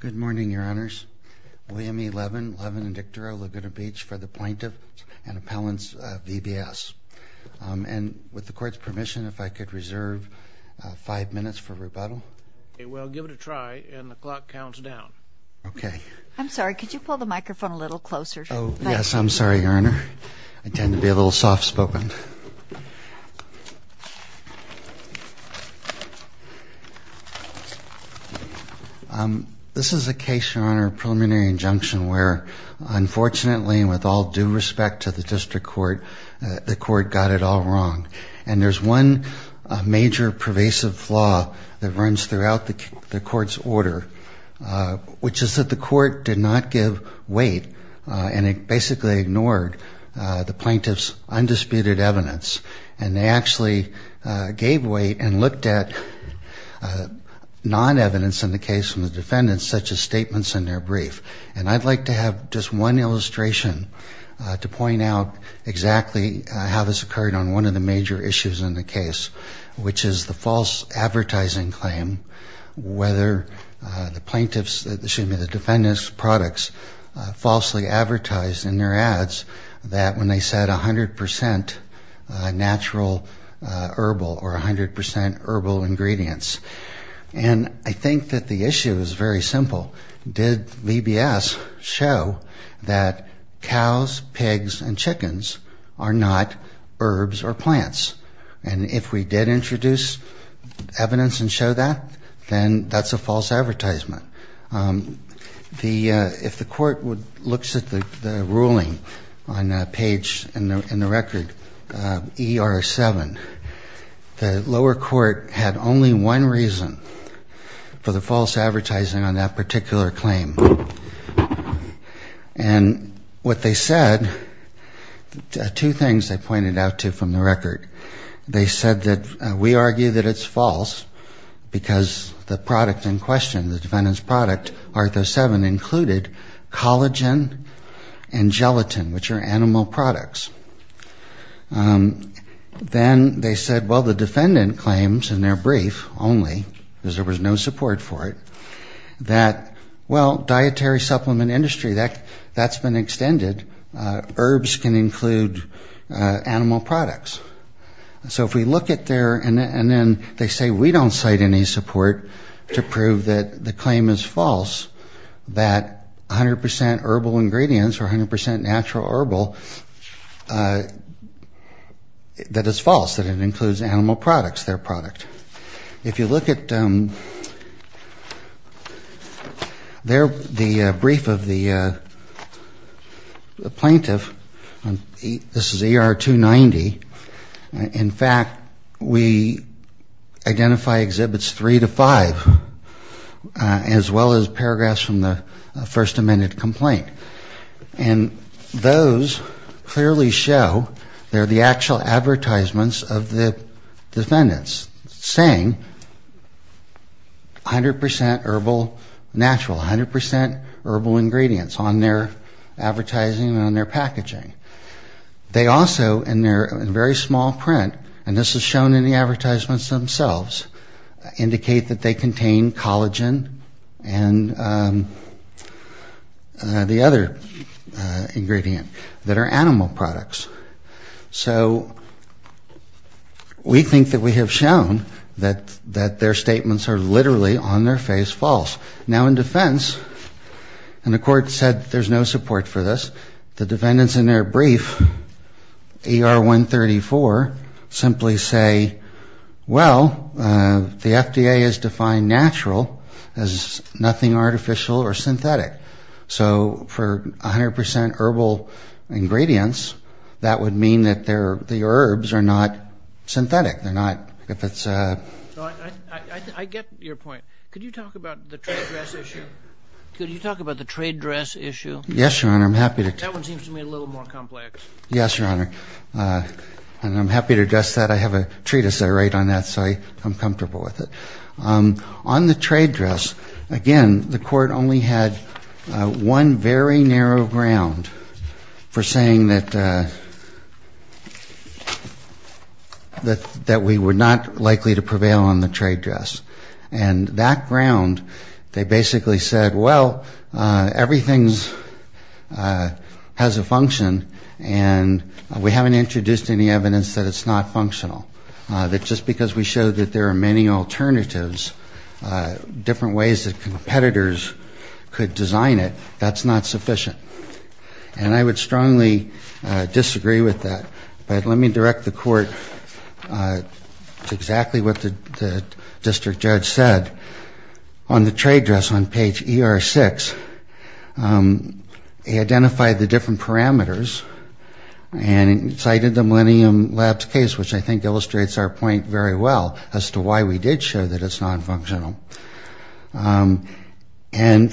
Good morning, Your Honors. William E. Levin, Levin & Dictoro, Laguna Beach for the Plaintiff and Appellants, VBS. And with the Court's permission, if I could reserve five minutes for rebuttal. Well, give it a try, and the clock counts down. Okay. I'm sorry, could you pull the microphone a little closer? Oh, yes, I'm sorry, Your Honor. I tend to be a little soft-spoken. This is a case, Your Honor, of preliminary injunction where, unfortunately, and with all due respect to the District Court, the Court got it all wrong. And there's one major pervasive flaw that runs throughout the Court's order, which is that the Court did not give weight, and it basically ignored the Plaintiff's undisputed evidence. And they actually gave weight and looked at non-evidence in the case from the defendants, such as statements in their brief. And I'd like to have just one illustration to point out exactly how this occurred on one of the major issues in the case, which is the false advertising claim, whether the defendant's products falsely advertised in their ads, that when they said 100% natural herbal or 100% herbal ingredients. And I think that the issue is very simple. Did VBS show that cows, pigs, and chickens are not herbs or plants? And if we did introduce evidence and show that, then that's a false advertisement. If the Court looks at the ruling on page in the record, ER7, the lower court had only one reason for the false advertising on that particular claim. And what they said, two things they pointed out to from the record. They said that we argue that it's false because the product in question, the defendant's product, ARTHOS-7, included collagen and gelatin, which are animal products. Then they said, well, the defendant claims in their brief only, because there was no support for it, that, well, dietary supplement industry, that's been extended. Herbs can include animal products. So if we look at their, and then they say we don't cite any support to prove that the claim is false, that 100% herbal ingredients or 100% natural herbal, that it's false, that it includes animal products, their product. If you look at their, the brief of the plaintiff, this is ER290. In fact, we identify exhibits three to five, as well as paragraphs from the First Amendment complaint. And those clearly show, they're the actual advertisements of the defendants, saying 100% herbal natural, 100% herbal ingredients on their advertising and on their packaging. They also, in their very small print, and this is shown in the advertisements themselves, indicate that they contain collagen and the other ingredient that are animal products. So we think that we have shown that their statements are literally on their face false. Now in defense, and the court said there's no support for this, the defendants in their brief, ER134, simply say, well, the FDA has defined natural as nothing artificial or synthetic. So for 100% herbal ingredients, that would mean that the herbs are not synthetic. I get your point. Could you talk about the trade dress issue? Could you talk about the trade dress issue? Yes, Your Honor, I'm happy to. That one seems to me a little more complex. Yes, Your Honor, and I'm happy to address that. I have a treatise I write on that, so I'm comfortable with it. On the trade dress, again, the court only had one very narrow ground for saying that we were not likely to prevail on the trade dress. And that ground, they basically said, well, everything has a function, and we haven't introduced any evidence that it's not functional. That just because we show that there are many alternatives, different ways that competitors could design it, that's not sufficient. And I would strongly disagree with that. But let me direct the court to exactly what the district judge said. On the trade dress, on page ER6, he identified the different parameters and cited the Millennium Labs case, which I think illustrates our point very well as to why we did show that it's nonfunctional. And,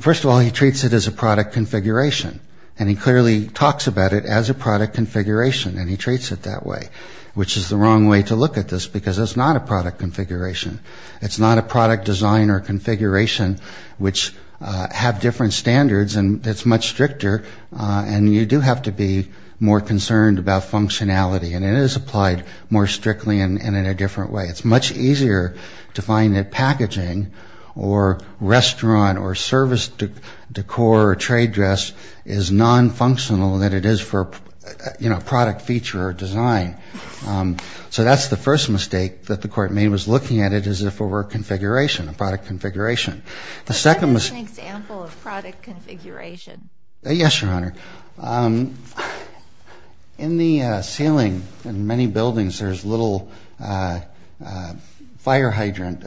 first of all, he treats it as a product configuration. And he clearly talks about it as a product configuration, and he treats it that way, which is the wrong way to look at this, because it's not a product configuration. It's not a product design or configuration, which have different standards, and it's much stricter, and you do have to be more concerned about functionality. And it is applied more strictly and in a different way. It's much easier to find that packaging or restaurant or service decor or trade dress is nonfunctional than it is for, you know, product feature or design. So that's the first mistake that the court made was looking at it as if it were a configuration, a product configuration. The second was... But that is an example of product configuration. Yes, Your Honor. In the ceiling in many buildings, there's little fire hydrant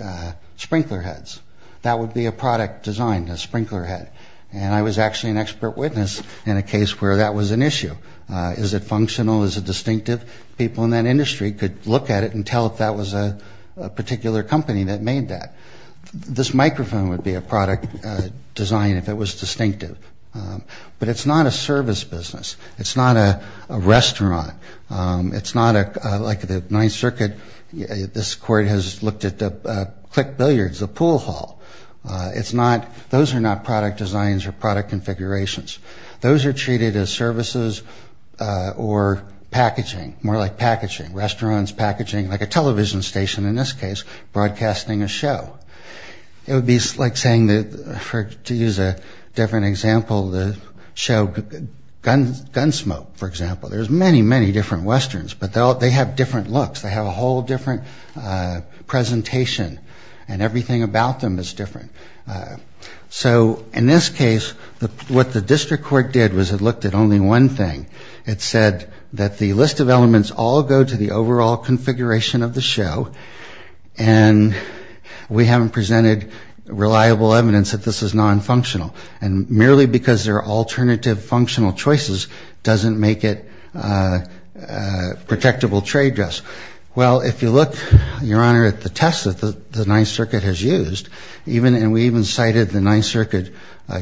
sprinkler heads. That would be a product design, a sprinkler head. And I was actually an expert witness in a case where that was an issue. Is it functional? Is it distinctive? People in that industry could look at it and tell if that was a particular company that made that. This microphone would be a product design if it was distinctive. But it's not a service business. It's not a restaurant. It's not like the Ninth Circuit. This court has looked at the click billiards, the pool hall. It's not... Those are not product designs or product configurations. Those are treated as services or packaging, more like packaging, restaurants, packaging, like a television station, in this case, broadcasting a show. It would be like saying that, to use a different example, the show Gunsmoke, for example. There's many, many different westerns, but they have different looks. They have a whole different presentation, and everything about them is different. So in this case, what the district court did was it looked at only one thing. It said that the list of elements all go to the overall configuration of the show, and we haven't presented reliable evidence that this is nonfunctional. And merely because there are alternative functional choices doesn't make it a protectable trade dress. Well, if you look, Your Honor, at the test that the Ninth Circuit has used, and we even cited the Ninth Circuit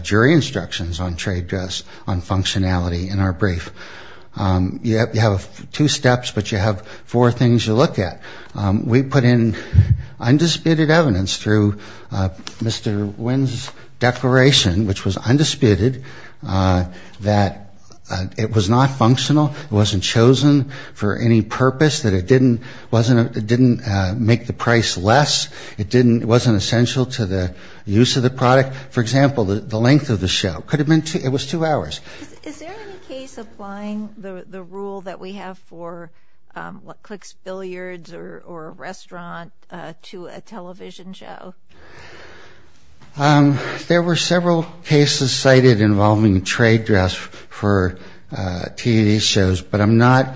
jury instructions on trade dress, on functionality in our brief, you have two steps, but you have four things to look at. We put in undisputed evidence through Mr. Wynn's declaration, which was undisputed, that it was not functional. It wasn't chosen for any purpose, that it didn't make the price less. It wasn't essential to the use of the product. For example, the length of the show. It was two hours. Is there any case applying the rule that we have for what clicks billiards or a restaurant to a television show? There were several cases cited involving trade dress for TV shows, but I'm not ‑‑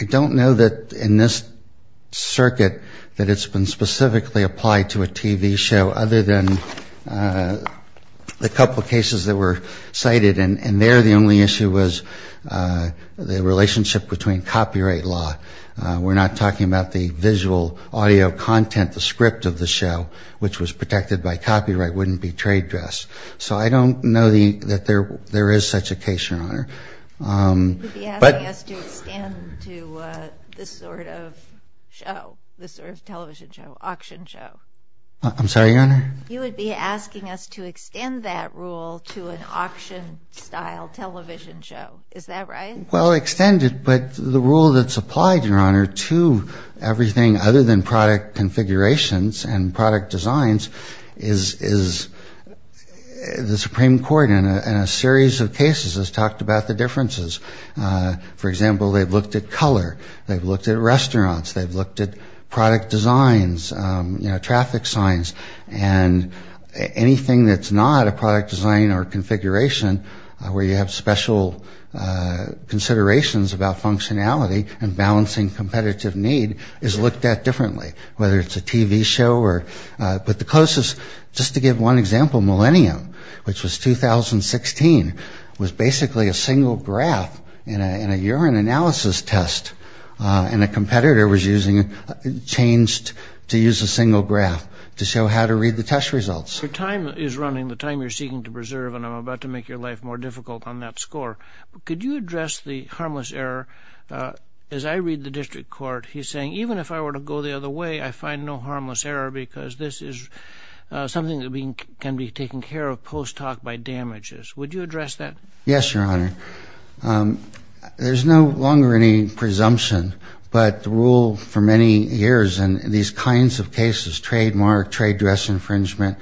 I don't know that in this circuit that it's been specifically applied to a TV show other than the couple of cases that were cited, and there the only issue was the relationship between copyright law. We're not talking about the visual audio content, the script of the show, which was protected by copyright wouldn't be trade dress. So I don't know that there is such a case, Your Honor. You would be asking us to extend to this sort of show, this sort of television show, auction show. I'm sorry, Your Honor? You would be asking us to extend that rule to an auction style television show. Is that right? Well, extend it, but the rule that's applied, Your Honor, to everything other than product configurations and product designs is the Supreme Court in a series of cases has talked about the differences. For example, they've looked at color. They've looked at restaurants. They've looked at product designs, you know, traffic signs, and anything that's not a product design or configuration where you have special considerations about functionality and balancing competitive need is looked at differently, whether it's a TV show or ‑‑ but the closest, just to give one example, Millennium, which was 2016, was basically a single graph in a urine analysis test, and a competitor was using ‑‑ changed to use a single graph to show how to read the test results. Your time is running, the time you're seeking to preserve, and I'm about to make your life more difficult on that score. Could you address the harmless error? As I read the district court, he's saying, even if I were to go the other way, I find no harmless error because this is something that can be taken care of post‑talk by damages. Would you address that? Yes, Your Honor. There's no longer any presumption, but the rule for many years in these kinds of cases, trademark, trade dress infringement,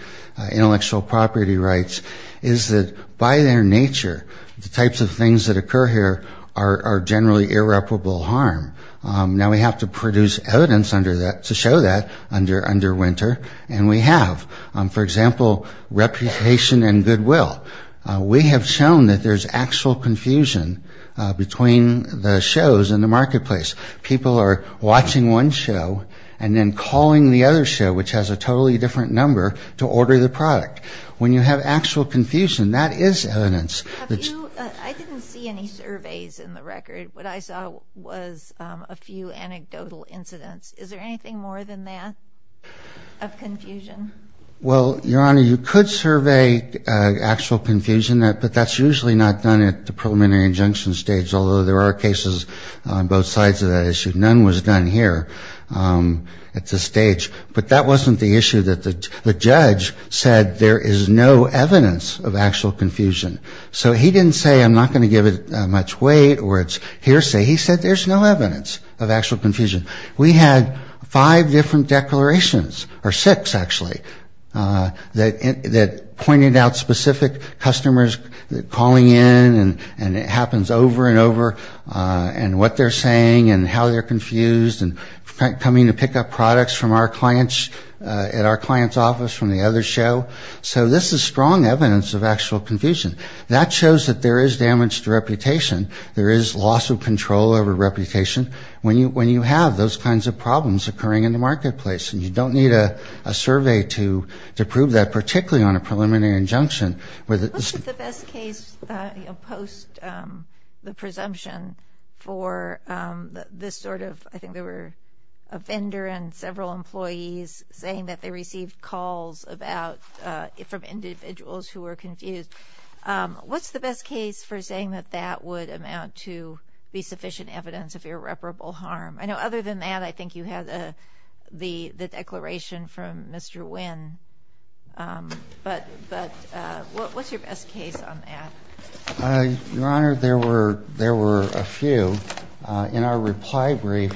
intellectual property rights, is that by their nature, the types of things that occur here are generally irreparable harm. Now we have to produce evidence to show that under winter, and we have, for example, reputation and goodwill. We have shown that there's actual confusion between the shows and the marketplace. People are watching one show and then calling the other show, which has a totally different number, to order the product. When you have actual confusion, that is evidence. I didn't see any surveys in the record. What I saw was a few anecdotal incidents. Is there anything more than that of confusion? Well, Your Honor, you could survey actual confusion, but that's usually not done at the preliminary injunction stage, although there are cases on both sides of that issue. None was done here at this stage. But that wasn't the issue that the judge said there is no evidence of actual confusion. So he didn't say I'm not going to give it much weight or it's hearsay. He said there's no evidence of actual confusion. We had five different declarations, or six, actually, that pointed out specific customers calling in, and it happens over and over, and what they're saying and how they're confused and coming to pick up products at our client's office from the other show. So this is strong evidence of actual confusion. That shows that there is damage to reputation. There is loss of control over reputation when you have those kinds of problems occurring in the marketplace, and you don't need a survey to prove that, particularly on a preliminary injunction. What's the best case post the presumption for this sort of, I think there were a vendor and several employees saying that they received calls from individuals who were confused. What's the best case for saying that that would amount to be sufficient evidence of irreparable harm? I know other than that, I think you had the declaration from Mr. Wynn. But what's your best case on that? Your Honor, there were a few. In our reply brief,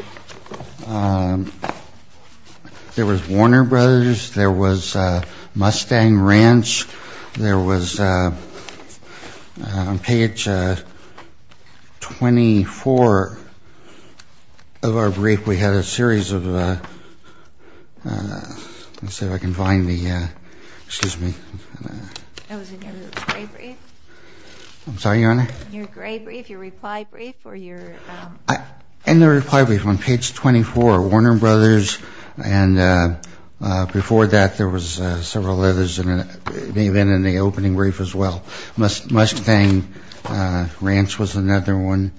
there was Warner Brothers. There was Mustang Ranch. There was, on page 24 of our brief, we had a series of, let's see if I can find the, excuse me. That was in your gray brief? I'm sorry, Your Honor? Your gray brief, your reply brief, or your? In the reply brief, on page 24, Warner Brothers. And before that, there was several others. It may have been in the opening brief as well. Mustang Ranch was another one.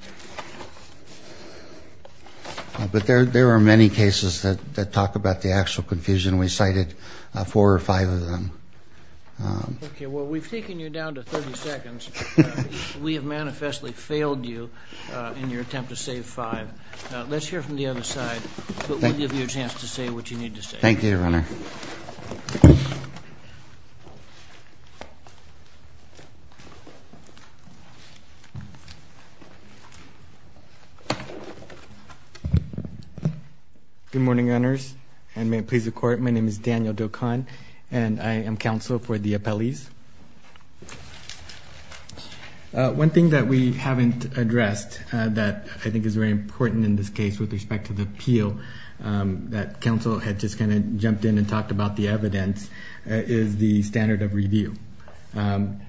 But there are many cases that talk about the actual confusion. We cited four or five of them. Okay. Well, we've taken you down to 30 seconds. We have manifestly failed you in your attempt to save five. Let's hear from the other side. We'll give you a chance to say what you need to say. Thank you, Your Honor. Good morning, Gunners. And may it please the Court, my name is Daniel Dokon. And I am counsel for the appellees. One thing that we haven't addressed that I think is very important in this case with respect to the appeal, that counsel had just kind of jumped in and talked about the evidence, is the standard of review.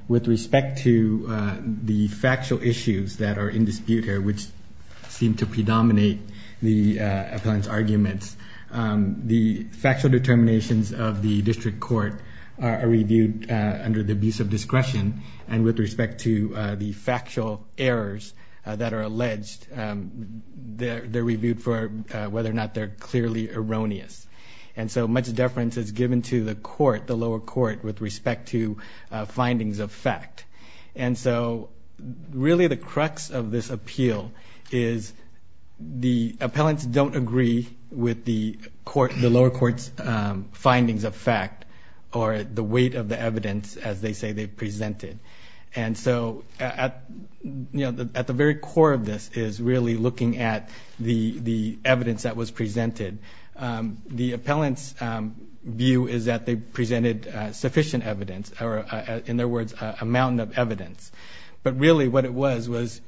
With respect to the factual issues that are in dispute here, which seem to predominate the appellant's arguments, the factual determinations of the district court are reviewed under the abuse of discretion. And with respect to the factual errors that are alleged, they're reviewed for whether or not they're clearly erroneous. And so much deference is given to the court, the lower court, with respect to findings of fact. And so really the crux of this appeal is the appellants don't agree with the lower court's findings of fact, or the weight of the evidence, as they say they've presented. And so at the very core of this is really looking at the evidence that was presented. The appellant's view is that they presented sufficient evidence, or in their words, a mountain of evidence. But really what it was was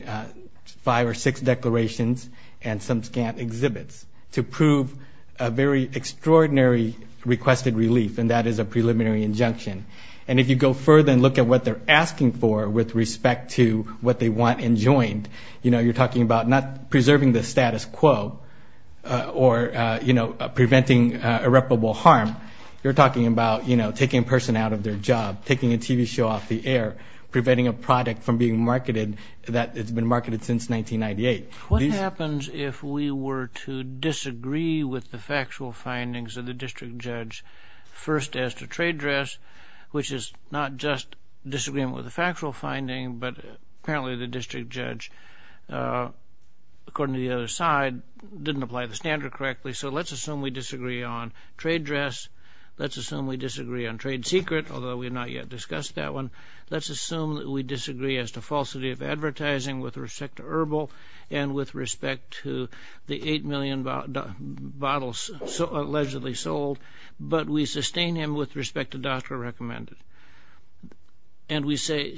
five or six declarations and some scant exhibits to prove a very extraordinary requested relief, and that is a preliminary injunction. And if you go further and look at what they're asking for with respect to what they want enjoined, you know, you're talking about not preserving the status quo or, you know, preventing irreparable harm. You're talking about, you know, taking a person out of their job, taking a TV show off the air, preventing a product from being marketed that has been marketed since 1998. What happens if we were to disagree with the factual findings of the district judge first as to trade dress, which is not just disagreement with the factual finding, but apparently the district judge, according to the other side, didn't apply the standard correctly. So let's assume we disagree on trade dress. Let's assume we disagree on trade secret, although we have not yet discussed that one. Let's assume that we disagree as to falsity of advertising with respect to herbal and with respect to the eight million bottles allegedly sold. But we sustain him with respect to doctor recommended. And we say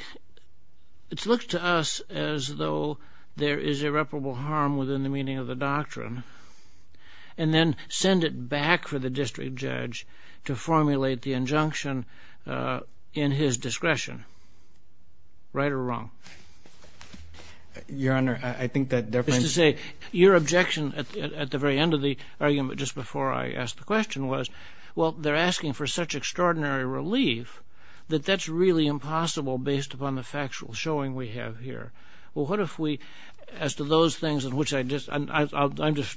it's looked to us as though there is irreparable harm within the meaning of the doctrine, and then send it back for the district judge to formulate the injunction in his discretion. Right or wrong? Your Honor, I think that difference... Your objection at the very end of the argument just before I asked the question was, well, they're asking for such extraordinary relief, that that's really impossible based upon the factual showing we have here. Well, what if we, as to those things in which I'm just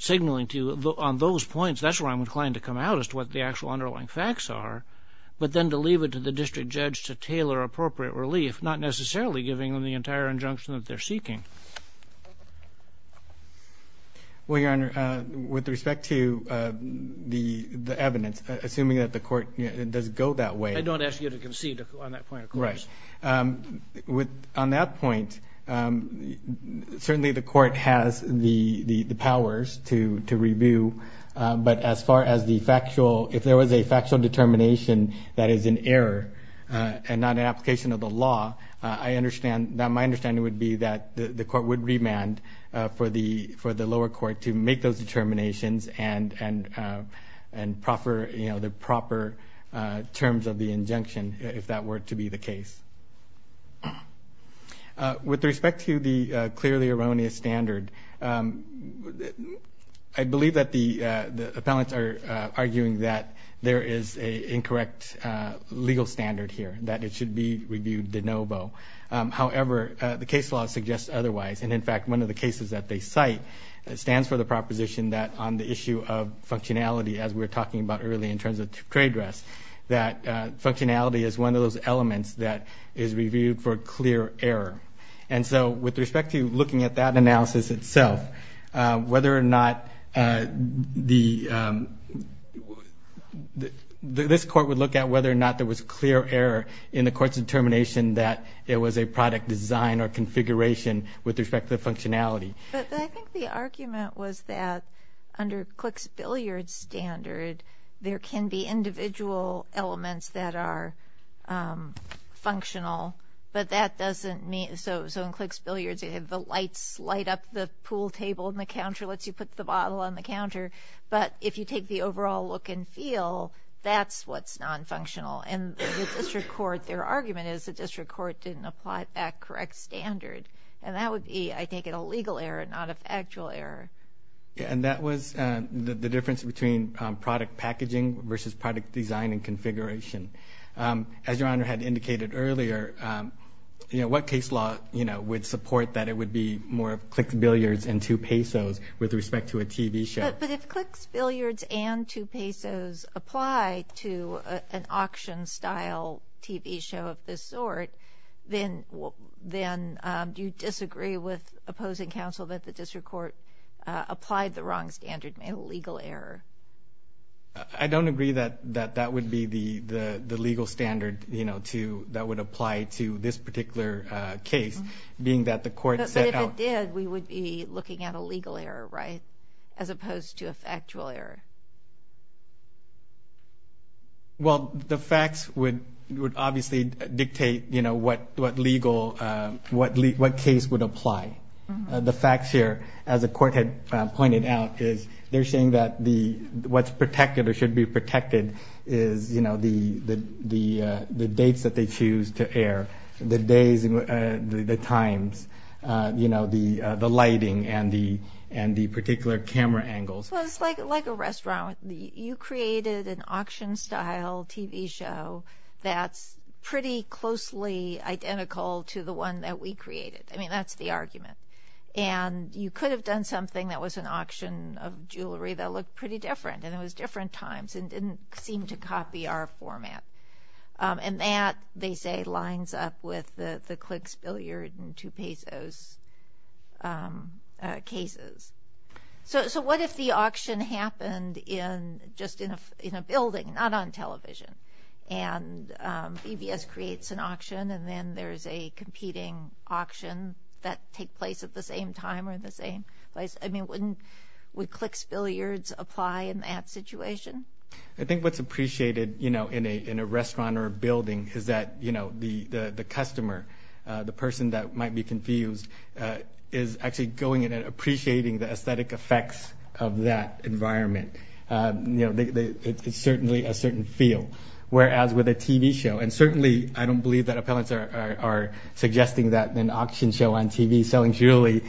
signaling to you, on those points, that's where I'm inclined to come out as to what the actual underlying facts are, but then to leave it to the district judge to tailor appropriate relief, not necessarily giving them the entire injunction that they're seeking. Well, Your Honor, with respect to the evidence, assuming that the court does go that way... I don't ask you to concede on that point, of course. Right. On that point, certainly the court has the powers to review, but as far as the factual, if there was a factual determination that is in error and not an application of the law, my understanding would be that the court would remand for the lower court to make those determinations and proffer the proper terms of the injunction if that were to be the case. With respect to the clearly erroneous standard, I believe that the appellants are arguing that there is an incorrect legal standard here, that it should be reviewed de novo. However, the case law suggests otherwise. And, in fact, one of the cases that they cite stands for the proposition that on the issue of functionality, as we were talking about earlier in terms of trade dress, that functionality is one of those elements that is reviewed for clear error. And so with respect to looking at that analysis itself, whether or not the... This court would look at whether or not there was clear error in the court's determination that it was a product design or configuration with respect to the functionality. But I think the argument was that under Click's billiard standard, there can be individual elements that are functional, but that doesn't mean... So in Click's billiards, you have the lights light up, the pool table and the counter lets you put the bottle on the counter. But if you take the overall look and feel, that's what's nonfunctional. And the district court, their argument is the district court didn't apply that correct standard. And that would be, I take it, a legal error, not an actual error. As Your Honor had indicated earlier, what case law would support that it would be more of Click's billiards and two pesos with respect to a TV show? But if Click's billiards and two pesos apply to an auction-style TV show of this sort, then do you disagree with opposing counsel that the district court applied the wrong standard and made a legal error? I don't agree that that would be the legal standard, you know, that would apply to this particular case, being that the court set out... But if it did, we would be looking at a legal error, right, as opposed to an actual error. Well, the facts would obviously dictate, you know, what legal, what case would apply. The facts here, as the court had pointed out, is they're saying that what's protected or should be protected is, you know, the dates that they choose to air, the days and the times, you know, the lighting and the particular camera angles. Well, it's like a restaurant. You created an auction-style TV show that's pretty closely identical to the one that we created. I mean, that's the argument. And you could have done something that was an auction of jewelry that looked pretty different, and it was different times and didn't seem to copy our format. And that, they say, lines up with the Click's billiard and two pesos cases. So what if the auction happened in, just in a building, not on television? And EBS creates an auction, and then there's a competing auction that take place at the same time or the same place. I mean, wouldn't, would Click's billiards apply in that situation? I think what's appreciated, you know, in a restaurant or a building is that, you know, the customer, the person that might be confused, is actually going in and appreciating the aesthetic effects of that environment. It's certainly a certain feel, whereas with a TV show, and certainly I don't believe that appellants are suggesting that an auction show on TV selling jewelry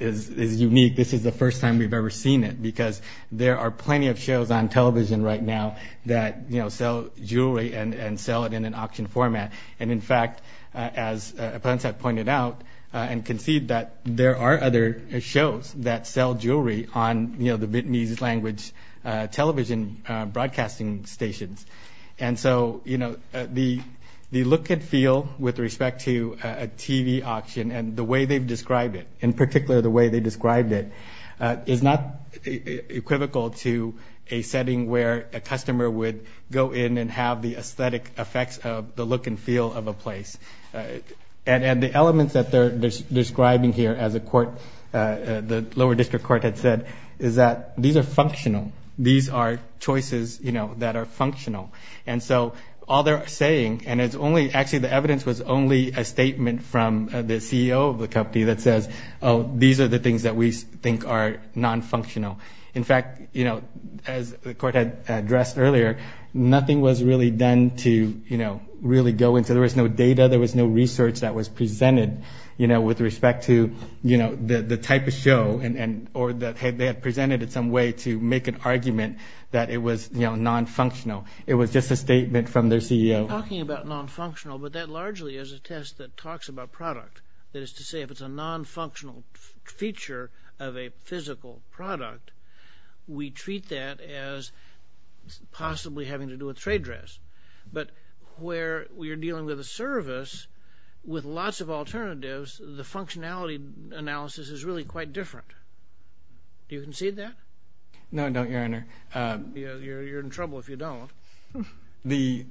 is unique. This is the first time we've ever seen it because there are plenty of shows on television right now that, you know, sell jewelry and sell it in an auction format. And, in fact, as appellants have pointed out and conceded that there are other shows that sell jewelry on, you know, the Vietnamese language television broadcasting stations. And so, you know, the look and feel with respect to a TV auction and the way they've described it, in particular the way they described it, is not equivocal to a setting where a customer would go in and have the aesthetic effects of the look and feel of a place. And the elements that they're describing here, as the lower district court had said, is that these are functional. These are choices, you know, that are functional. And so all they're saying, and actually the evidence was only a statement from the CEO of the company that says, oh, these are the things that we think are non-functional. In fact, you know, as the court had addressed earlier, nothing was really done to, you know, really go into. There was no data. There was no research that was presented, you know, with respect to, you know, the type of show, or that they had presented in some way to make an argument that it was, you know, non-functional. It was just a statement from their CEO. They're talking about non-functional, but that largely is a test that talks about product. That is to say, if it's a non-functional feature of a physical product, we treat that as possibly having to do with trade dress. But where you're dealing with a service with lots of alternatives, the functionality analysis is really quite different. Do you concede that? No, I don't, Your Honor. You're in trouble if you don't. The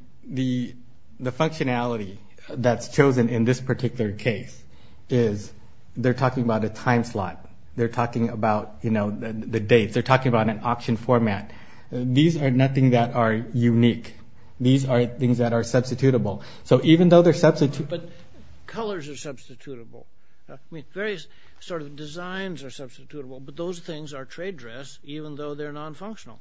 functionality that's chosen in this particular case is they're talking about a time slot. They're talking about, you know, the dates. They're talking about an option format. These are nothing that are unique. These are things that are substitutable. So even though they're substitutable. But colors are substitutable. I mean, various sort of designs are substitutable, but those things are trade dress even though they're non-functional.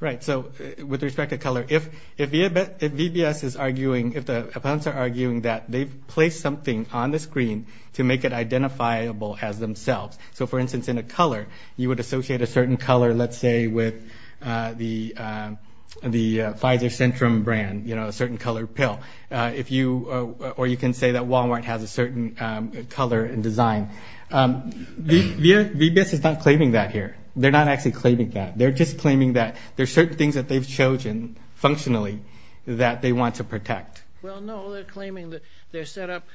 Right. So with respect to color, if VBS is arguing, if the opponents are arguing that they've placed something on the screen to make it identifiable as themselves. So, for instance, in a color, you would associate a certain color, let's say, with the Pfizer Centrum brand, you know, a certain color pill. Or you can say that Walmart has a certain color and design. VBS is not claiming that here. They're not actually claiming that. They're just claiming that there are certain things that they've chosen functionally that they want to protect. Well, no, they're claiming that they set up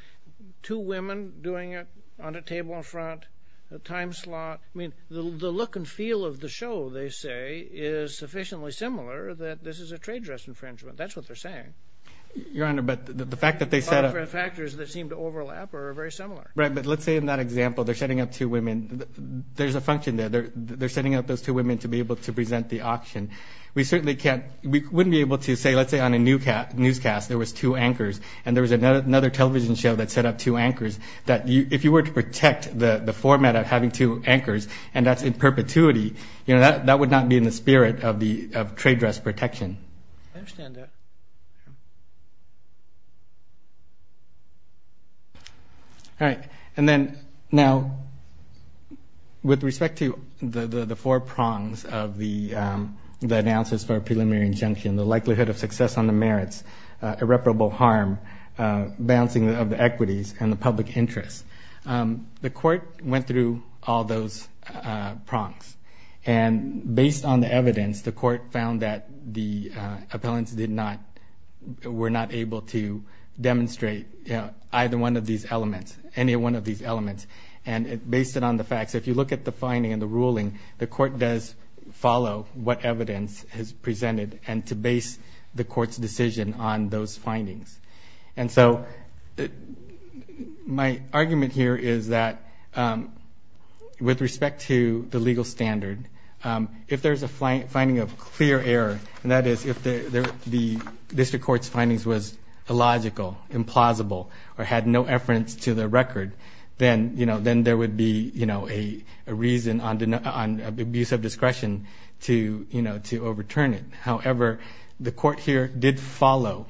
two women doing it on a table in front, a time slot. I mean, the look and feel of the show, they say, is sufficiently similar that this is a trade dress infringement. That's what they're saying. Your Honor, but the fact that they set up. Other factors that seem to overlap are very similar. Right, but let's say in that example they're setting up two women. There's a function there. They're setting up those two women to be able to present the auction. We wouldn't be able to say, let's say, on a newscast there was two anchors and there was another television show that set up two anchors. If you were to protect the format of having two anchors, and that's in perpetuity, that would not be in the spirit of trade dress protection. I understand that. All right. And then now, with respect to the four prongs of the announcers for a preliminary injunction, the likelihood of success on the merits, irreparable harm, balancing of the equities, and the public interest, the court went through all those prongs. And based on the evidence, the court found that the appellants did not, were not able to demonstrate either one of these elements, any one of these elements. And based on the facts, if you look at the finding and the ruling, the court does follow what evidence is presented and to base the court's decision on those findings. And so my argument here is that with respect to the legal standard, if there's a finding of clear error, and that is if the district court's findings was illogical, implausible, or had no reference to the record, then there would be a reason on abuse of discretion to overturn it. However, the court here did follow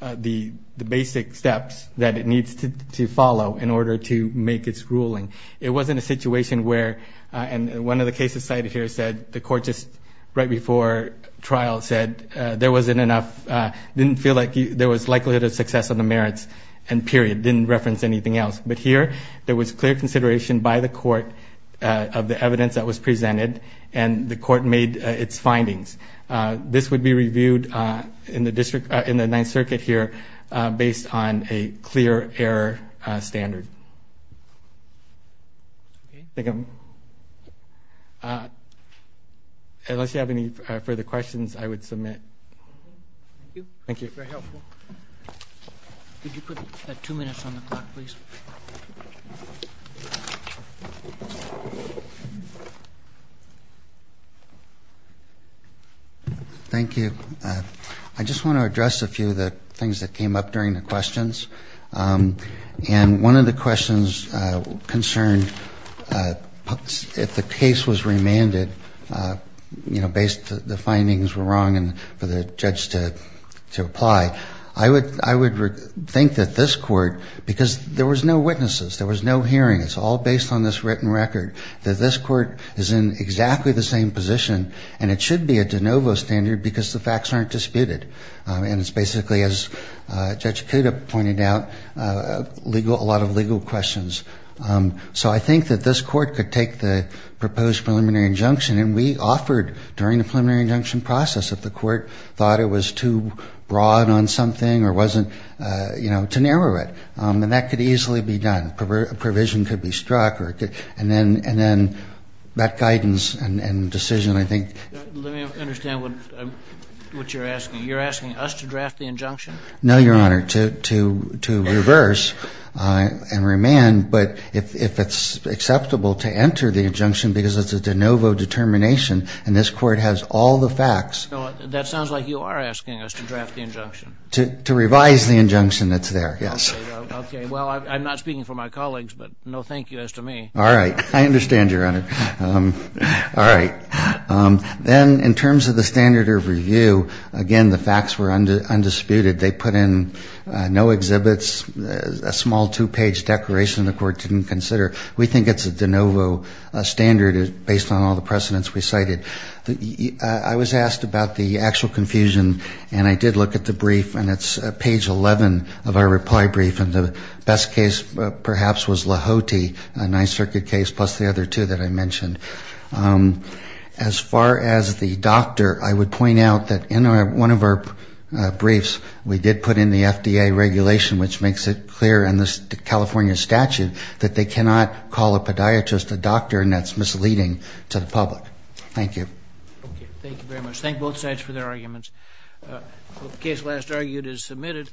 the basic steps that it needs to follow in order to make its ruling. It wasn't a situation where, and one of the cases cited here said, the court just right before trial said there wasn't enough, didn't feel like there was likelihood of success on the merits, and period, didn't reference anything else. But here, there was clear consideration by the court of the evidence that was presented, and the court made its findings. This would be reviewed in the district, in the Ninth Circuit here, based on a clear error standard. Unless you have any further questions, I would submit. Thank you. Could you put two minutes on the clock, please? Thank you. I just want to address a few of the things that came up during the questions. And one of the questions concerned if the case was remanded, based that the findings were wrong and for the judge to apply. I would think that this court, because there was no witnesses, there was no hearing, it's all based on this written record, that this court is in exactly the same position, and it should be a de novo standard because the facts aren't disputed. And it's basically, as Judge Kuda pointed out, a lot of legal questions. So I think that this court could take the proposed preliminary injunction, and we offered, during the preliminary injunction process, if the court thought it was too broad on something or wasn't, you know, to narrow it. And that could easily be done. A provision could be struck, and then that guidance and decision, I think. Let me understand what you're asking. You're asking us to draft the injunction? No, Your Honor, to reverse and remand. But if it's acceptable to enter the injunction because it's a de novo determination, and this court has all the facts. That sounds like you are asking us to draft the injunction. To revise the injunction that's there, yes. Okay. Well, I'm not speaking for my colleagues, but no thank you as to me. All right. I understand, Your Honor. All right. Then in terms of the standard of review, again, the facts were undisputed. They put in no exhibits, a small two-page declaration the court didn't consider. We think it's a de novo standard based on all the precedents we cited. I was asked about the actual confusion, and I did look at the brief, and it's page 11 of our reply brief, and the best case perhaps was Lahoti, a Ninth Circuit case, plus the other two that I mentioned. As far as the doctor, I would point out that in one of our briefs we did put in the FDA regulation, which makes it clear in the California statute that they cannot call a podiatrist a doctor, and that's misleading to the public. Thank you. Okay. Thank you very much. Thank both sides for their arguments. The case last argued is submitted.